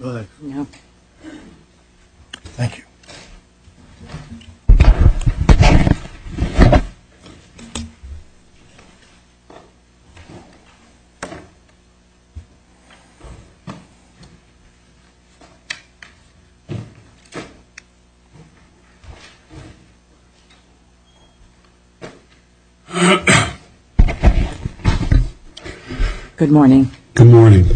Go ahead. Thank you. Good morning.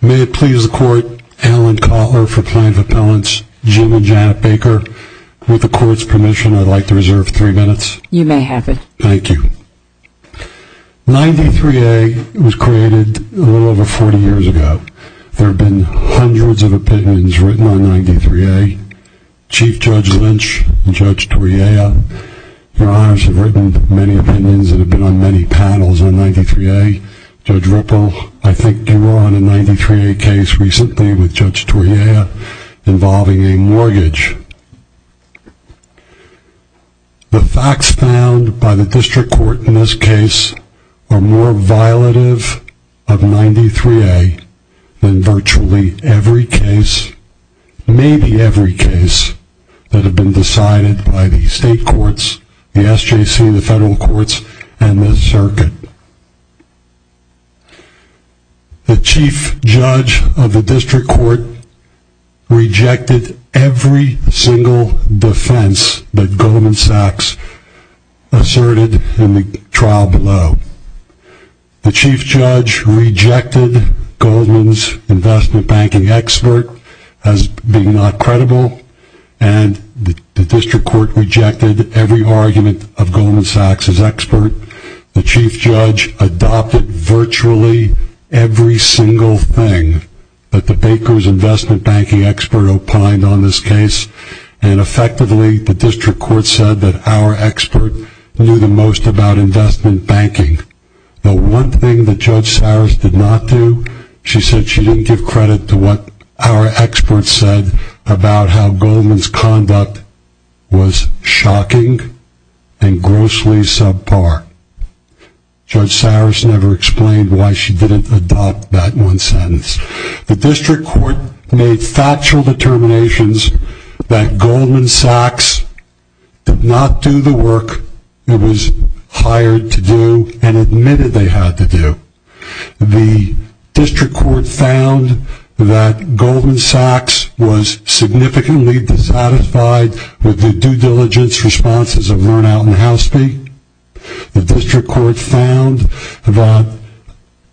May it please the Court, Alan Kotler for plaintiff appellants, Jim and Janet Baker. With the Court's permission, I'd like to reserve three minutes. You may have it. Thank you. 93A was created a little over 40 years ago. There have been hundreds of opinions written on 93A. Chief Judge Lynch and Judge Toriello, Your Honors, have written many opinions and have been on many paddles on 93A. Judge Ripple, I think, came on a 93A case recently with Judge Toriello involving a mortgage. The facts found by the district court in this case are more violative of 93A than virtually every case, maybe every case, that have been decided by the state courts, the SJC, the federal courts, and the circuit. The chief judge of the district court rejected every single defense that Goldman Sachs asserted in the trial below. The chief judge rejected Goldman's investment banking expert as being not credible, and the district court rejected every argument of Goldman Sachs' expert. The chief judge adopted virtually every single thing that the Baker's investment banking expert opined on this case, and effectively, the district court said that our expert knew the most about investment banking. The one thing that Judge Sowers did not do, she said she didn't give credit to what our expert said about how Goldman's conduct was shocking and grossly subpar. Judge Sowers never explained why she didn't adopt that one sentence. The district court made factual determinations that Goldman Sachs did not do the work it was hired to do and admitted they had to do. The district court found that Goldman Sachs was significantly dissatisfied with the due diligence responses of Learnout and Houseby. The district court found that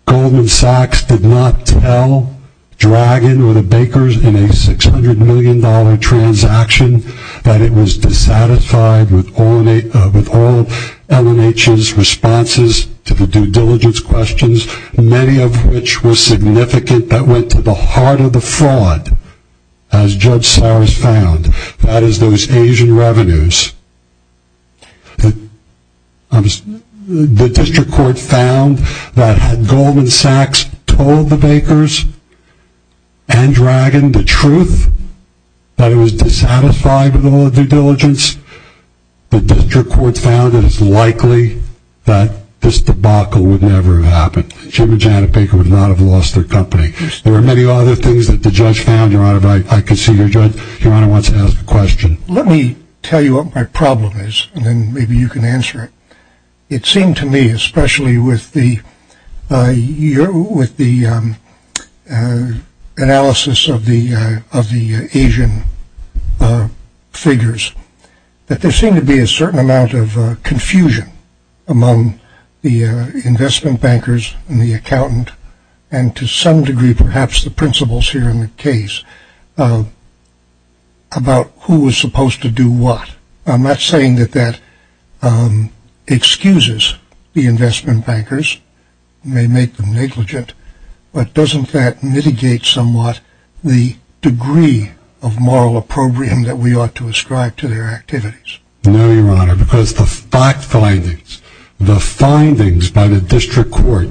Goldman Sachs did not tell Dragon or the Bakers in a $600 million transaction that it was dissatisfied with all of L&H's responses to the due diligence questions, many of which were significant that went to the heart of the fraud, as Judge Sowers found, that is those Asian revenues. The district court found that had Goldman Sachs told the Bakers and Dragon the truth that it was dissatisfied with all of the due diligence, the district court found that it's likely that this debacle would never have happened. Jim and Janet Baker would not have lost their company. There are many other things that the judge found, Your Honor, but I can see Your Honor wants to ask a question. Let me tell you what my problem is and then maybe you can answer it. It seemed to me, especially with the analysis of the Asian figures, that there seemed to be a certain amount of confusion among the investment bankers and the accountant and to some degree perhaps the principals here in the case about who was supposed to do what. I'm not saying that that excuses the investment bankers, may make them negligent, but doesn't that mitigate somewhat the degree of moral opprobrium that we ought to ascribe to their activities? No, Your Honor, because the fact findings, the findings by the district court,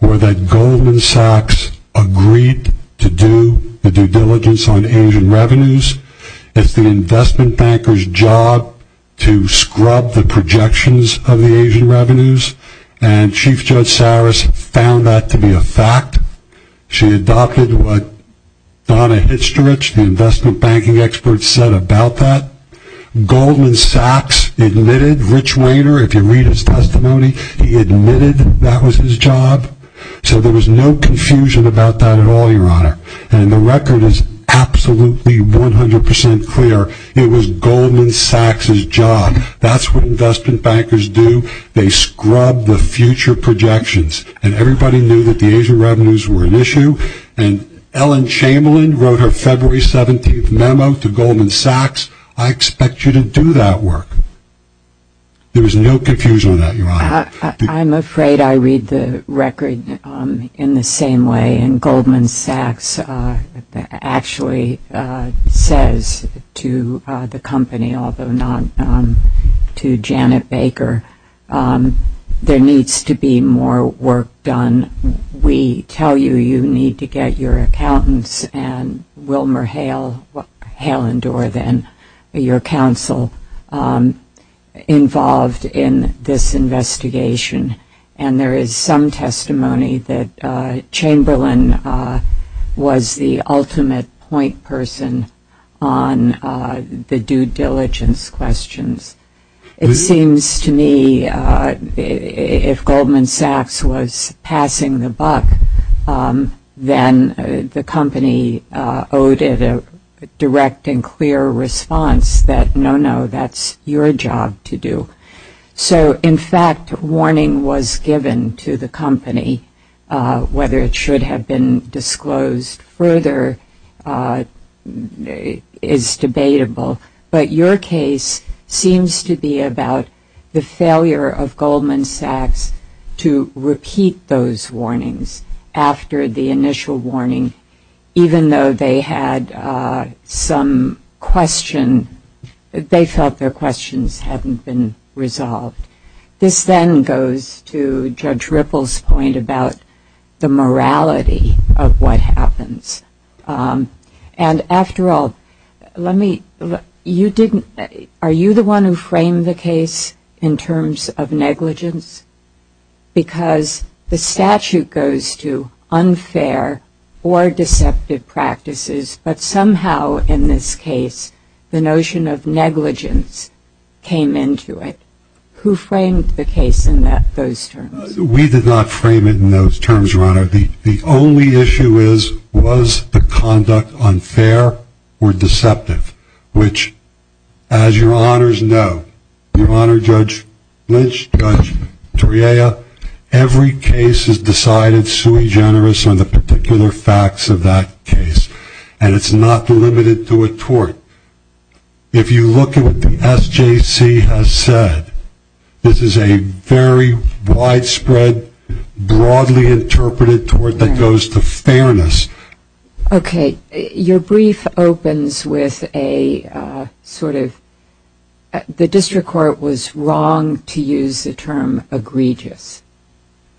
were that Goldman Sachs agreed to do the due diligence on Asian revenues. It's the investment banker's job to scrub the projections of the Asian revenues and Chief Judge Sowers found that to be a fact. She adopted what Donna Histerich, the investment banking expert, said about that. Goldman Sachs admitted, Rich Wainer, if you read his testimony, he admitted that was his job. So there was no confusion about that at all, Your Honor, and the record is absolutely 100% clear. It was Goldman Sachs' job. That's what investment bankers do. They scrub the future projections and everybody knew that the Asian revenues were an issue and Ellen Chamberlain wrote her February 17th memo to Goldman Sachs. I expect you to do that work. There was no confusion on that, Your Honor. I'm afraid I read the record in the same way, and Goldman Sachs actually says to the company, although not to Janet Baker, there needs to be more work done. We tell you you need to get your accountants and Wilmer Hale, Hale and Dorr then, your counsel involved in this investigation, and there is some testimony that Chamberlain was the ultimate point person on the due diligence questions. It seems to me if Goldman Sachs was passing the buck, then the company owed it a direct and clear response that no, no, that's your job to do. So, in fact, warning was given to the company. Whether it should have been disclosed further is debatable, but your case seems to be about the failure of Goldman Sachs to repeat those warnings after the initial warning, even though they had some question, they felt their questions hadn't been resolved. This then goes to Judge Ripple's point about the morality of what happens. And after all, are you the one who framed the case in terms of negligence? Because the statute goes to unfair or deceptive practices, but somehow in this case the notion of negligence came into it. Who framed the case in those terms? We did not frame it in those terms, Your Honor. The only issue is, was the conduct unfair or deceptive? Which, as Your Honors know, Your Honor, Judge Lynch, Judge Toriella, every case is decided sui generis on the particular facts of that case, and it's not delimited to a court. If you look at what the SJC has said, this is a very widespread, broadly interpreted tort that goes to fairness. Okay, your brief opens with a sort of, the district court was wrong to use the term egregious.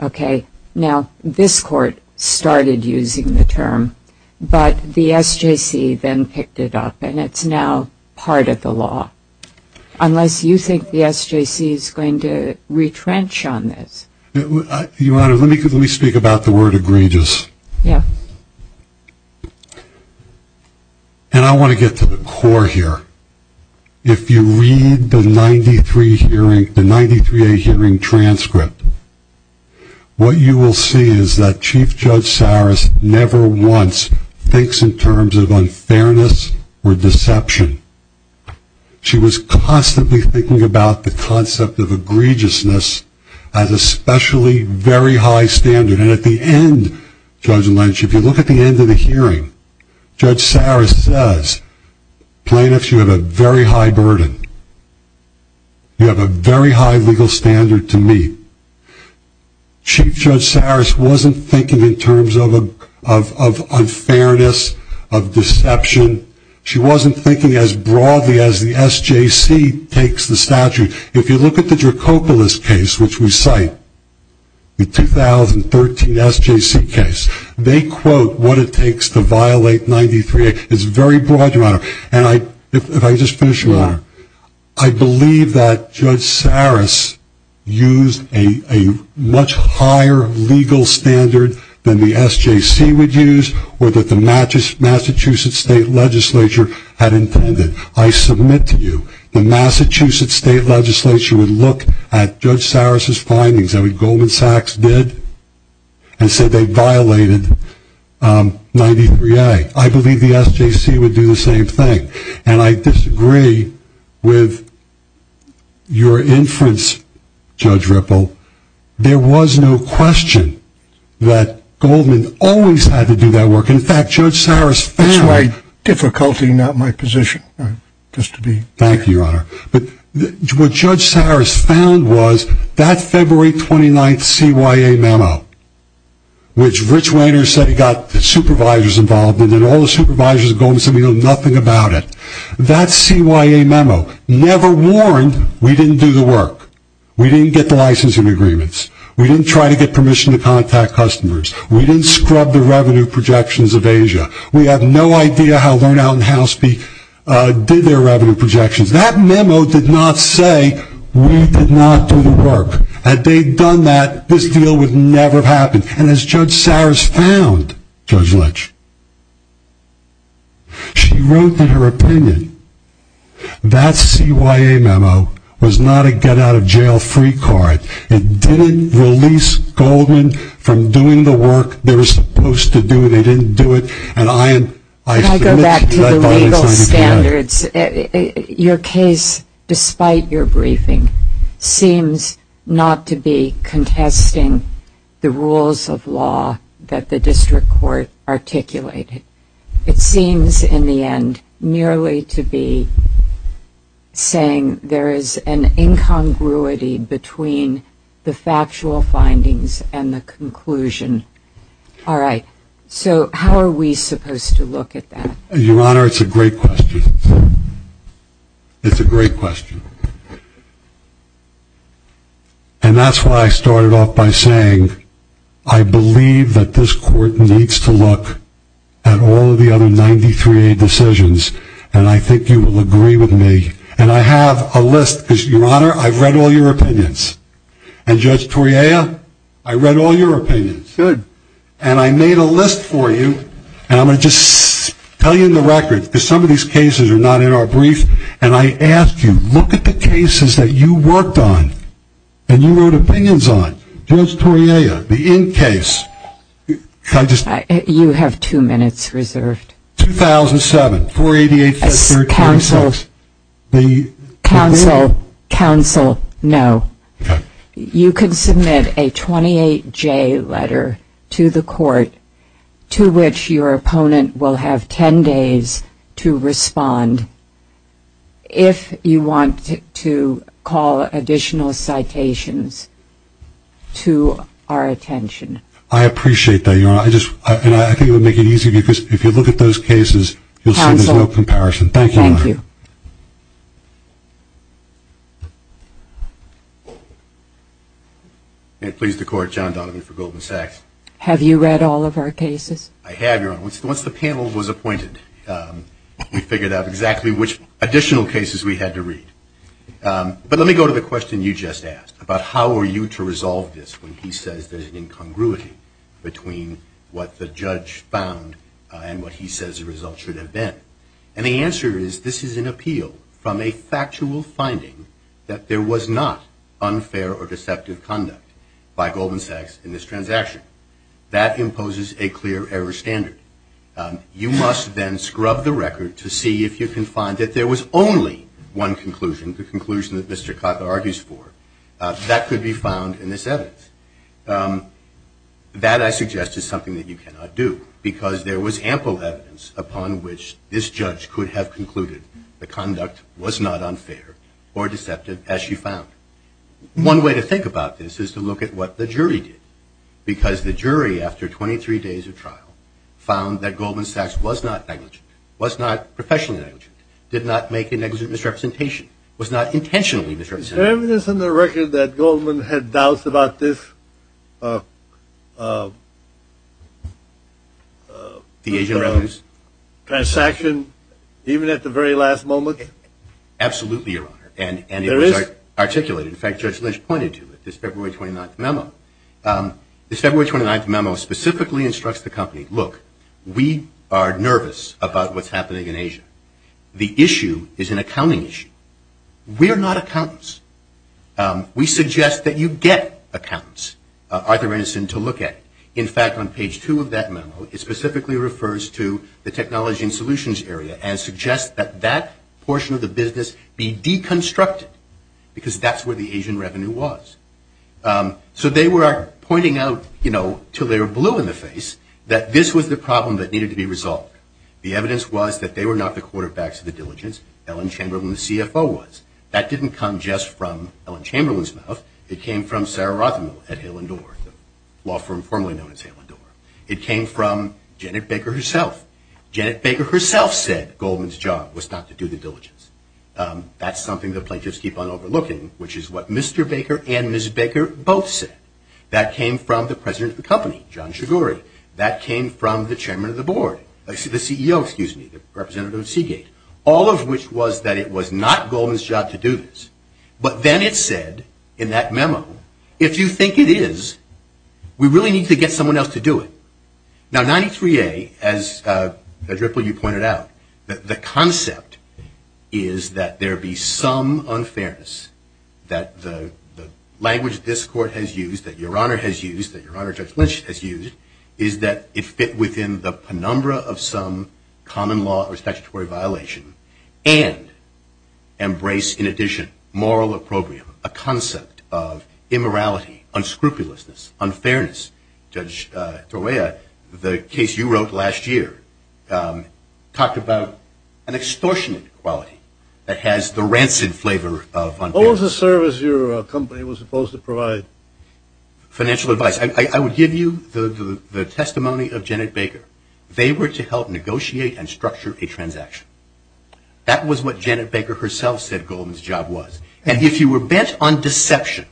Okay, now this court started using the term, but the SJC then picked it up and it's now part of the law, unless you think the SJC is going to retrench on this. Your Honor, let me speak about the word egregious. Yeah. And I want to get to the core here. If you read the 93A hearing transcript, what you will see is that Chief Judge Saris never once thinks in terms of unfairness or deception. She was constantly thinking about the concept of egregiousness as a specially very high standard, and at the end, Judge Lynch, if you look at the end of the hearing, Judge Saris says, plaintiffs, you have a very high burden. You have a very high legal standard to meet. Chief Judge Saris wasn't thinking in terms of unfairness, of deception. She wasn't thinking as broadly as the SJC takes the statute. If you look at the Dracopoulos case, which we cite, the 2013 SJC case, they quote what it takes to violate 93A. It's very broad, Your Honor, and if I could just finish, Your Honor, I believe that Judge Saris used a much higher legal standard than the SJC would use or that the Massachusetts State Legislature had intended. I submit to you the Massachusetts State Legislature would look at Judge Saris' findings, that what Goldman Sachs did, and say they violated 93A. I believe the SJC would do the same thing, and I disagree with your inference, Judge Ripple. There was no question that Goldman always had to do that work. In fact, Judge Saris found... That's why difficulty is not my position. Thank you, Your Honor. What Judge Saris found was that February 29th CYA memo, which Rich Wainer said he got the supervisors involved in, and all the supervisors of Goldman said we know nothing about it. That CYA memo never warned we didn't do the work. We didn't get the licensing agreements. We didn't try to get permission to contact customers. We didn't scrub the revenue projections of Asia. We have no idea how Learn Out and How Speak did their revenue projections. That memo did not say we did not do the work. Had they done that, this deal would never have happened. And as Judge Saris found, Judge Lynch, she wrote in her opinion that CYA memo was not a get-out-of-jail-free card. It didn't release Goldman from doing the work they were supposed to do. They didn't do it, and I am... Can I go back to the legal standards? Your case, despite your briefing, seems not to be contesting the rules of law that the district court articulated. It seems, in the end, nearly to be saying there is an incongruity between the factual findings and the conclusion. All right. So how are we supposed to look at that? Your Honor, it's a great question. It's a great question. And that's why I started off by saying, I believe that this court needs to look at all of the other 93A decisions, and I think you will agree with me. And I have a list, because, Your Honor, I've read all your opinions. And, Judge Toriaya, I read all your opinions. Good. And I made a list for you, and I'm going to just tell you in the record, because some of these cases are not in our brief, and I asked you, look at the cases that you worked on and you wrote opinions on. Judge Toriaya, the in case. You have two minutes reserved. 2007, 488-5336. Counsel. Counsel. Counsel, no. Okay. You can submit a 28J letter to the court, to which your opponent will have 10 days to respond if you want to call additional citations to our attention. I appreciate that, Your Honor. And I think it would make it easy, because if you look at those cases, you'll see there's no comparison. Thank you, Your Honor. Thank you. And please declare John Donovan for Goldman Sachs. Have you read all of our cases? I have, Your Honor. Once the panel was appointed, we figured out exactly which additional cases we had to read. But let me go to the question you just asked, about how are you to resolve this when he says there's an incongruity between what the judge found and what he says the result should have been. And the answer is this is an appeal from a factual finding that there was not unfair or deceptive conduct by Goldman Sachs in this transaction. That imposes a clear error standard. You must then scrub the record to see if you can find that there was only one conclusion, the conclusion that Mr. Cotter argues for. That could be found in this evidence. That, I suggest, is something that you cannot do, because there was ample evidence upon which this judge could have concluded the conduct was not unfair or deceptive, as you found. One way to think about this is to look at what the jury did, because the jury, after 23 days of trial, found that Goldman Sachs was not negligent, was not professionally negligent, did not make a negligent misrepresentation, was not intentionally misrepresented. Is there evidence on the record that Goldman had doubts about this transaction, even at the very last moment? Absolutely, Your Honor. And it was articulated. In fact, Judge Lynch pointed to it, this February 29th memo. This February 29th memo specifically instructs the company, look, we are nervous about what's happening in Asia. The issue is an accounting issue. We are not accountants. We suggest that you get accountants, Arthur Renison, to look at it. In fact, on page two of that memo, it specifically refers to the technology and solutions area and suggests that that portion of the business be deconstructed, because that's where the Asian revenue was. So they were pointing out, you know, till they were blue in the face, that this was the problem that needed to be resolved. The evidence was that they were not the quarterbacks of the diligence. Ellen Chamberlain, the CFO, was. That didn't come just from Ellen Chamberlain's mouth. It came from Sarah Rothenberg at Hale and Dorr, the law firm formerly known as Hale and Dorr. It came from Janet Baker herself. Janet Baker herself said Goldman's job was not to do the diligence. That's something the plaintiffs keep on overlooking, which is what Mr. Baker and Ms. Baker both said. That came from the president of the company, John Shigori. That came from the chairman of the board, the CEO, excuse me, Representative Seagate, all of which was that it was not Goldman's job to do this. But then it said in that memo, if you think it is, we really need to get someone else to do it. Now, 93A, as, Judge Ripple, you pointed out, the concept is that there be some unfairness that the language this court has used, that Your Honor has used, that Your Honor Judge Lynch has used, is that it fit within the penumbra of some common law or statutory violation and embrace, in addition, moral opprobrium, a concept of immorality, unscrupulousness, and unfairness. Judge Torreya, the case you wrote last year, talked about an extortionate quality that has the rancid flavor of unfairness. What was the service your company was supposed to provide? Financial advice. I would give you the testimony of Janet Baker. They were to help negotiate and structure a transaction. That was what Janet Baker herself said Goldman's job was. And if you were bent on deception,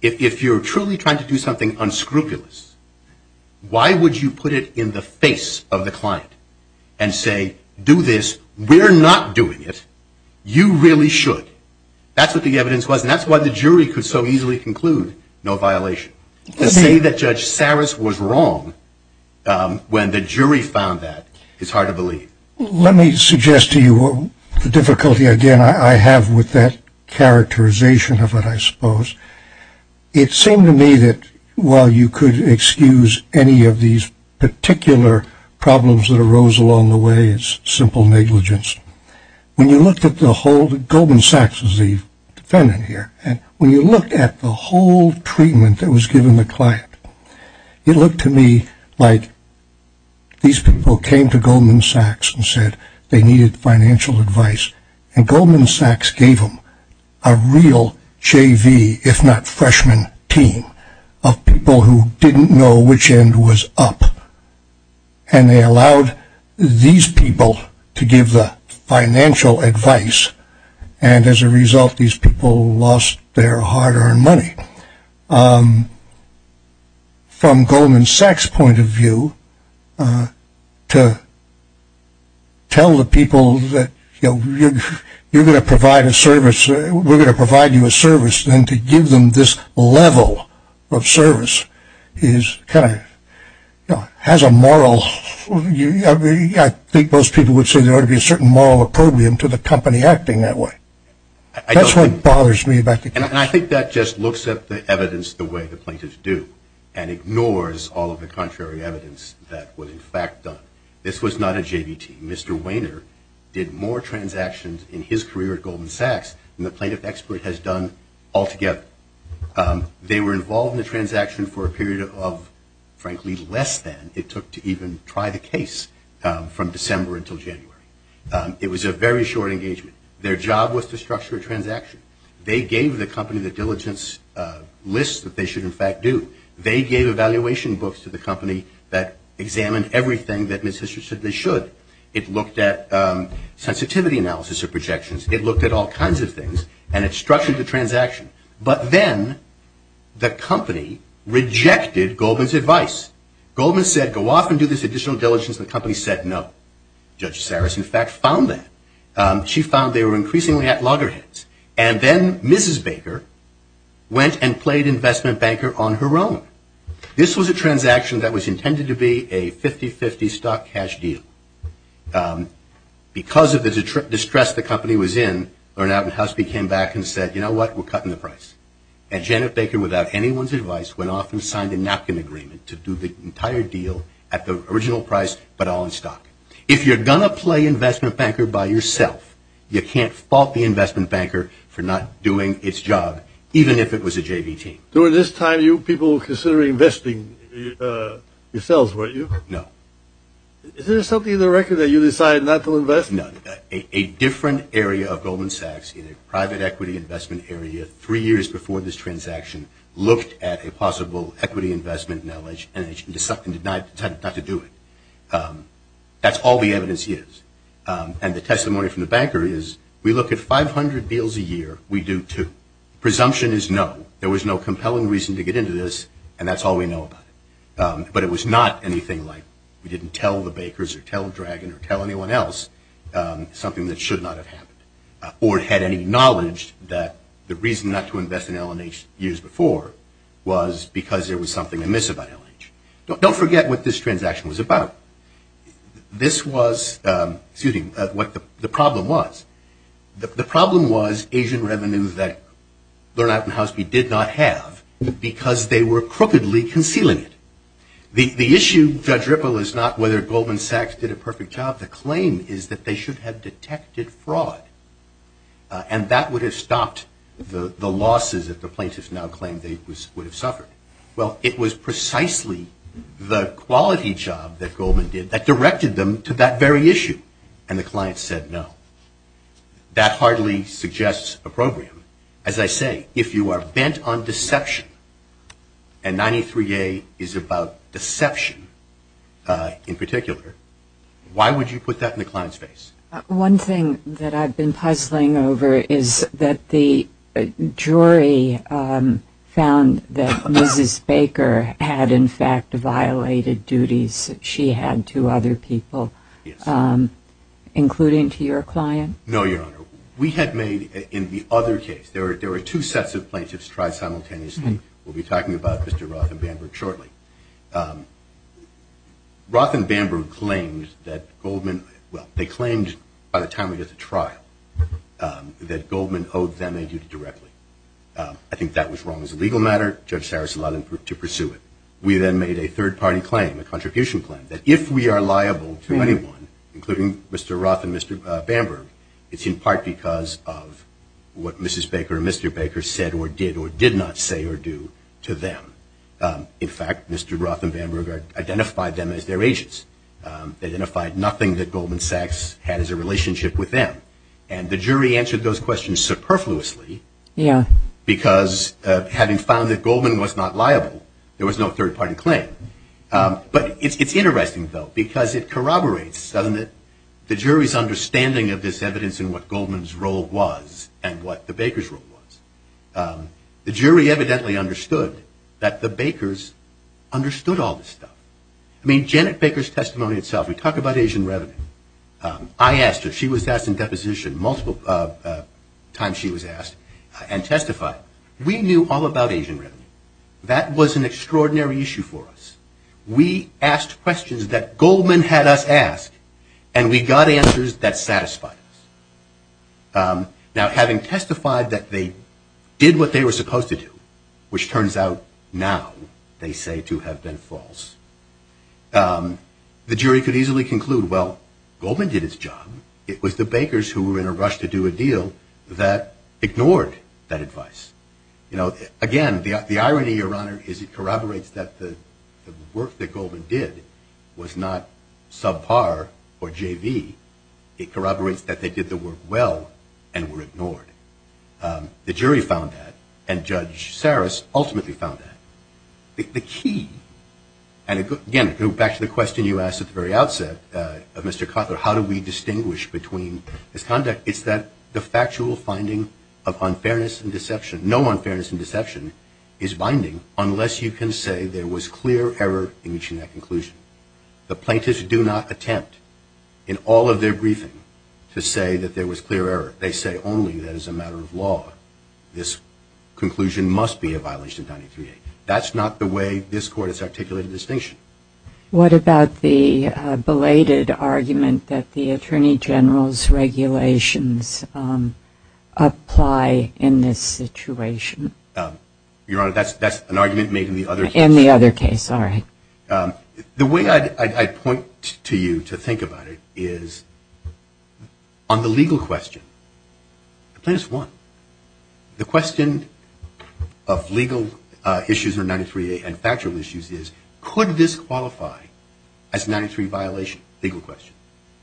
if you're truly trying to do something unscrupulous, why would you put it in the face of the client and say, do this, we're not doing it, you really should? That's what the evidence was, and that's why the jury could so easily conclude no violation. To say that Judge Saris was wrong when the jury found that is hard to believe. Let me suggest to you the difficulty, again, I have with that characterization of what I suppose. It seemed to me that while you could excuse any of these particular problems that arose along the way, it's simple negligence. When you looked at the whole, Goldman Sachs is the defendant here, and when you looked at the whole treatment that was given the client, it looked to me like these people came to Goldman Sachs and said they needed financial advice, and Goldman Sachs gave them a real JV, if not freshman team, of people who didn't know which end was up, and they allowed these people to give the financial advice, and as a result these people lost their hard-earned money. From Goldman Sachs' point of view, to tell the people that you're going to provide a service, we're going to provide you a service, then to give them this level of service has a moral, I think most people would say there ought to be a certain moral opprobrium to the company acting that way. That's what bothers me about the case. And I think that just looks at the evidence the way the plaintiffs do and ignores all of the contrary evidence that was in fact done. This was not a JV team. Mr. Wainer did more transactions in his career at Goldman Sachs than the plaintiff expert has done altogether. They were involved in the transaction for a period of, frankly, less than it took to even try the case from December until January. It was a very short engagement. Their job was to structure a transaction. They gave the company the diligence list that they should in fact do. They gave evaluation books to the company that examined everything that Mr. Sidney should. It looked at sensitivity analysis of projections. It looked at all kinds of things, and it structured the transaction. But then the company rejected Goldman's advice. Goldman said, go off and do this additional diligence. The company said no. Judge Saris, in fact, found that. She found they were increasingly at loggerheads. And then Mrs. Baker went and played investment banker on her own. This was a transaction that was intended to be a 50-50 stock cash deal. Because of the distress the company was in, Barnabas Husby came back and said, you know what, we're cutting the price. And Janet Baker, without anyone's advice, went off and signed a napkin agreement to do the entire deal at the original price but all in stock. If you're going to play investment banker by yourself, you can't fault the investment banker for not doing its job, even if it was a JV team. During this time, you people were considering investing yourselves, weren't you? No. Is there something in the record that you decided not to invest? No. A different area of Goldman Sachs, in a private equity investment area, three years before this transaction, looked at a possible equity investment knowledge and decided not to do it. That's all the evidence is. And the testimony from the banker is, we look at 500 deals a year, we do two. Presumption is no. There was no compelling reason to get into this, and that's all we know about it. But it was not anything like we didn't tell the Bakers or tell Dragon or tell anyone else something that should not have happened, or had any knowledge that the reason not to invest in L&H years before was because there was something amiss about L&H. Don't forget what this transaction was about. This was, excuse me, what the problem was. The problem was Asian revenues that Lerner and Housley did not have because they were crookedly concealing it. The issue, Judge Ripple, is not whether Goldman Sachs did a perfect job. The claim is that they should have detected fraud, and that would have stopped the losses that the plaintiffs now claim they would have suffered. Well, it was precisely the quality job that Goldman did that directed them to that very issue, and the client said no. That hardly suggests a program. As I say, if you are bent on deception, and 93A is about deception in particular, why would you put that in the client's face? One thing that I've been puzzling over is that the jury found that Mrs. Baker had, in fact, violated duties she had to other people, No, Your Honor. We had made, in the other case, there were two sets of plaintiffs tried simultaneously. We'll be talking about Mr. Roth and Bamberg shortly. Roth and Bamberg claimed that Goldman, well, they claimed by the time we got to trial that Goldman owed them a duty directly. I think that was wrong as a legal matter. Judge Sarris allowed them to pursue it. We then made a third-party claim, a contribution claim, that if we are liable to anyone, including Mr. Roth and Mr. Bamberg, it's in part because of what Mrs. Baker or Mr. Baker said or did or did not say or do to them. In fact, Mr. Roth and Bamberg identified them as their agents. They identified nothing that Goldman Sachs had as a relationship with them. And the jury answered those questions superfluously because having found that Goldman was not liable, there was no third-party claim. But it's interesting, though, because it corroborates, doesn't it, the jury's understanding of this evidence and what Goldman's role was and what the Baker's role was. The jury evidently understood that the Bakers understood all this stuff. I mean, Janet Baker's testimony itself, we talk about Asian revenue. I asked her. She was asked in deposition multiple times she was asked and testified. We knew all about Asian revenue. That was an extraordinary issue for us. We asked questions that Goldman had us ask, and we got answers that satisfied us. Now, having testified that they did what they were supposed to do, which turns out now they say to have been false, the jury could easily conclude, well, Goldman did his job. It was the Bakers who were in a rush to do a deal that ignored that advice. You know, again, the irony, Your Honor, is it corroborates that the work that Goldman did was not subpar or JV. It corroborates that they did the work well and were ignored. The jury found that, and Judge Saris ultimately found that. The key, and again, going back to the question you asked at the very outset, Mr. Kotler, how do we distinguish between this conduct, it's that the factual finding of unfairness and deception, no unfairness and deception is binding unless you can say there was clear error in reaching that conclusion. The plaintiffs do not attempt in all of their briefing to say that there was clear error. They say only that as a matter of law this conclusion must be a violation of 93A. That's not the way this Court has articulated distinction. What about the belated argument that the Attorney General's regulations apply in this situation? Your Honor, that's an argument made in the other case. In the other case, all right. The way I'd point to you to think about it is on the legal question, plaintiffs won. The question of legal issues of 93A and factual issues is, could this qualify as a 93A violation? Legal question.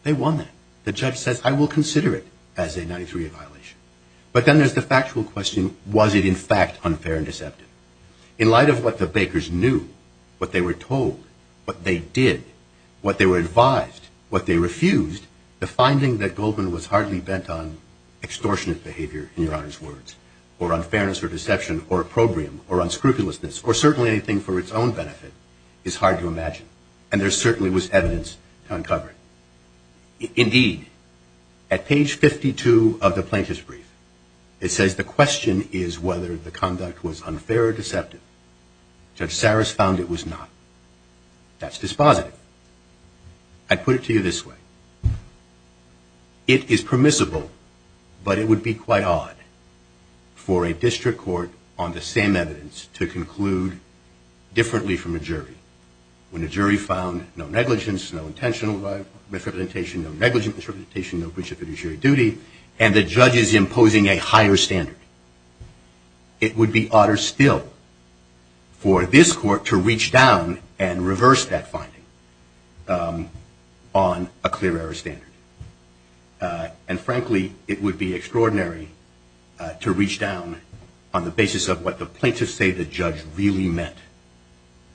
They won that. The judge says, I will consider it as a 93A violation. But then there's the factual question, was it in fact unfair and deceptive? In light of what the Bakers knew, what they were told, what they did, what they were advised, what they refused, the finding that Goldman was hardly bent on extortionate behavior, in Your Honor's words, or unfairness or deception or opprobrium or unscrupulousness or certainly anything for its own benefit is hard to imagine. And there certainly was evidence to uncover it. Indeed, at page 52 of the plaintiff's brief, it says the question is whether the conduct was unfair or deceptive. Judge Saris found it was not. That's dispositive. I'd put it to you this way. It is permissible, but it would be quite odd for a district court on the same evidence to conclude differently from a jury. When a jury found no negligence, no intentional misrepresentation, no negligent misrepresentation, no breach of fiduciary duty, and the judge is imposing a higher standard. It would be odder still for this court to reach down and reverse that finding on a clear error standard. And frankly, it would be extraordinary to reach down on the basis of what the plaintiffs say the judge really meant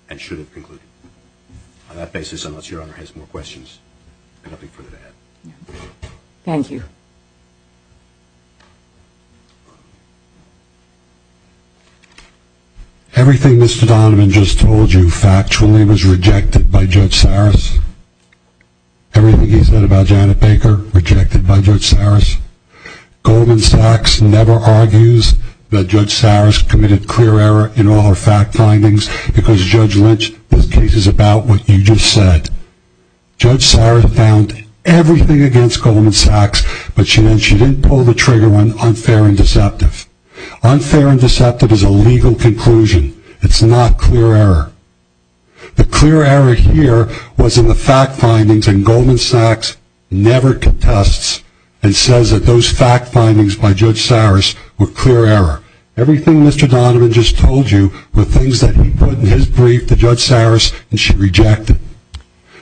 and should have concluded. On that basis, unless Your Honor has more questions, I have nothing further to add. Thank you. Everything Mr. Donovan just told you factually was rejected by Judge Saris. Everything he said about Janet Baker, rejected by Judge Saris. Goldman Sachs never argues that Judge Saris committed clear error in all her fact findings because Judge Lynch's case is about what you just said. Judge Saris found everything against Goldman Sachs, but she didn't pull the trigger on unfair and deceptive. Unfair and deceptive is a legal conclusion. It's not clear error. The clear error here was in the fact findings, and Goldman Sachs never contests and says that those fact findings by Judge Saris were clear error. Everything Mr. Donovan just told you were things that he put in his brief to Judge Saris, and she rejected.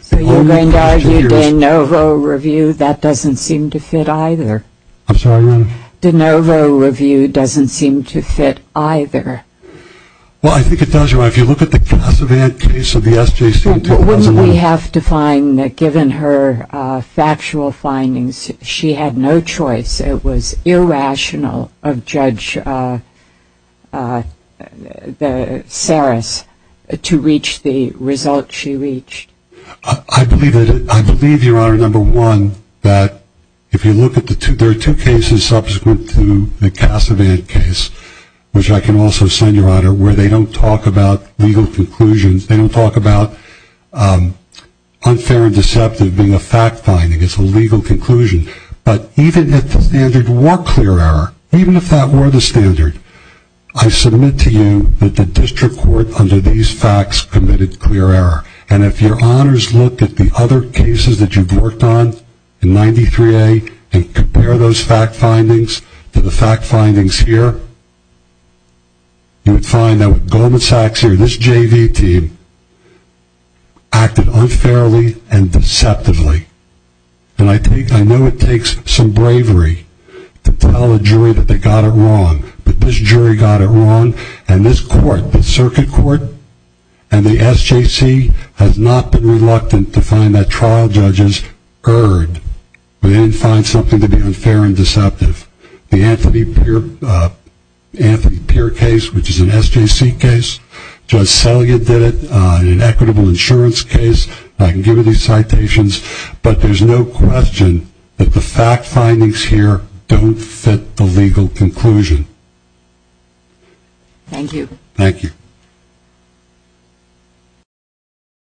So you're going to argue De Novo review, that doesn't seem to fit either. I'm sorry, Your Honor. De Novo review doesn't seem to fit either. Well, I think it does, Your Honor. If you look at the Casavant case of the SJC until... We have to find that given her factual findings, she had no choice. It was irrational of Judge Saris to reach the result she reached. I believe, Your Honor, number one, that if you look at the two, there are two cases subsequent to the Casavant case, which I can also send, Your Honor, where they don't talk about legal conclusions. They don't talk about unfair and deceptive being a fact finding. It's a legal conclusion. But even if the standard were clear error, even if that were the standard, I submit to you that the district court under these facts committed clear error. And if your honors look at the other cases that you've worked on in 93A and compare those fact findings to the fact findings here, you would find that with Goldman Sachs here, this JV team acted unfairly and deceptively. And I know it takes some bravery to tell a jury that they got it wrong. But this jury got it wrong, and this court, the circuit court and the SJC, has not been reluctant to find that trial judges erred. They didn't find something to be unfair and deceptive. The Anthony Peer case, which is an SJC case, Judge Selya did it in an equitable insurance case. I can give you these citations, but there's no question that the fact findings here don't fit the legal conclusion. Thank you.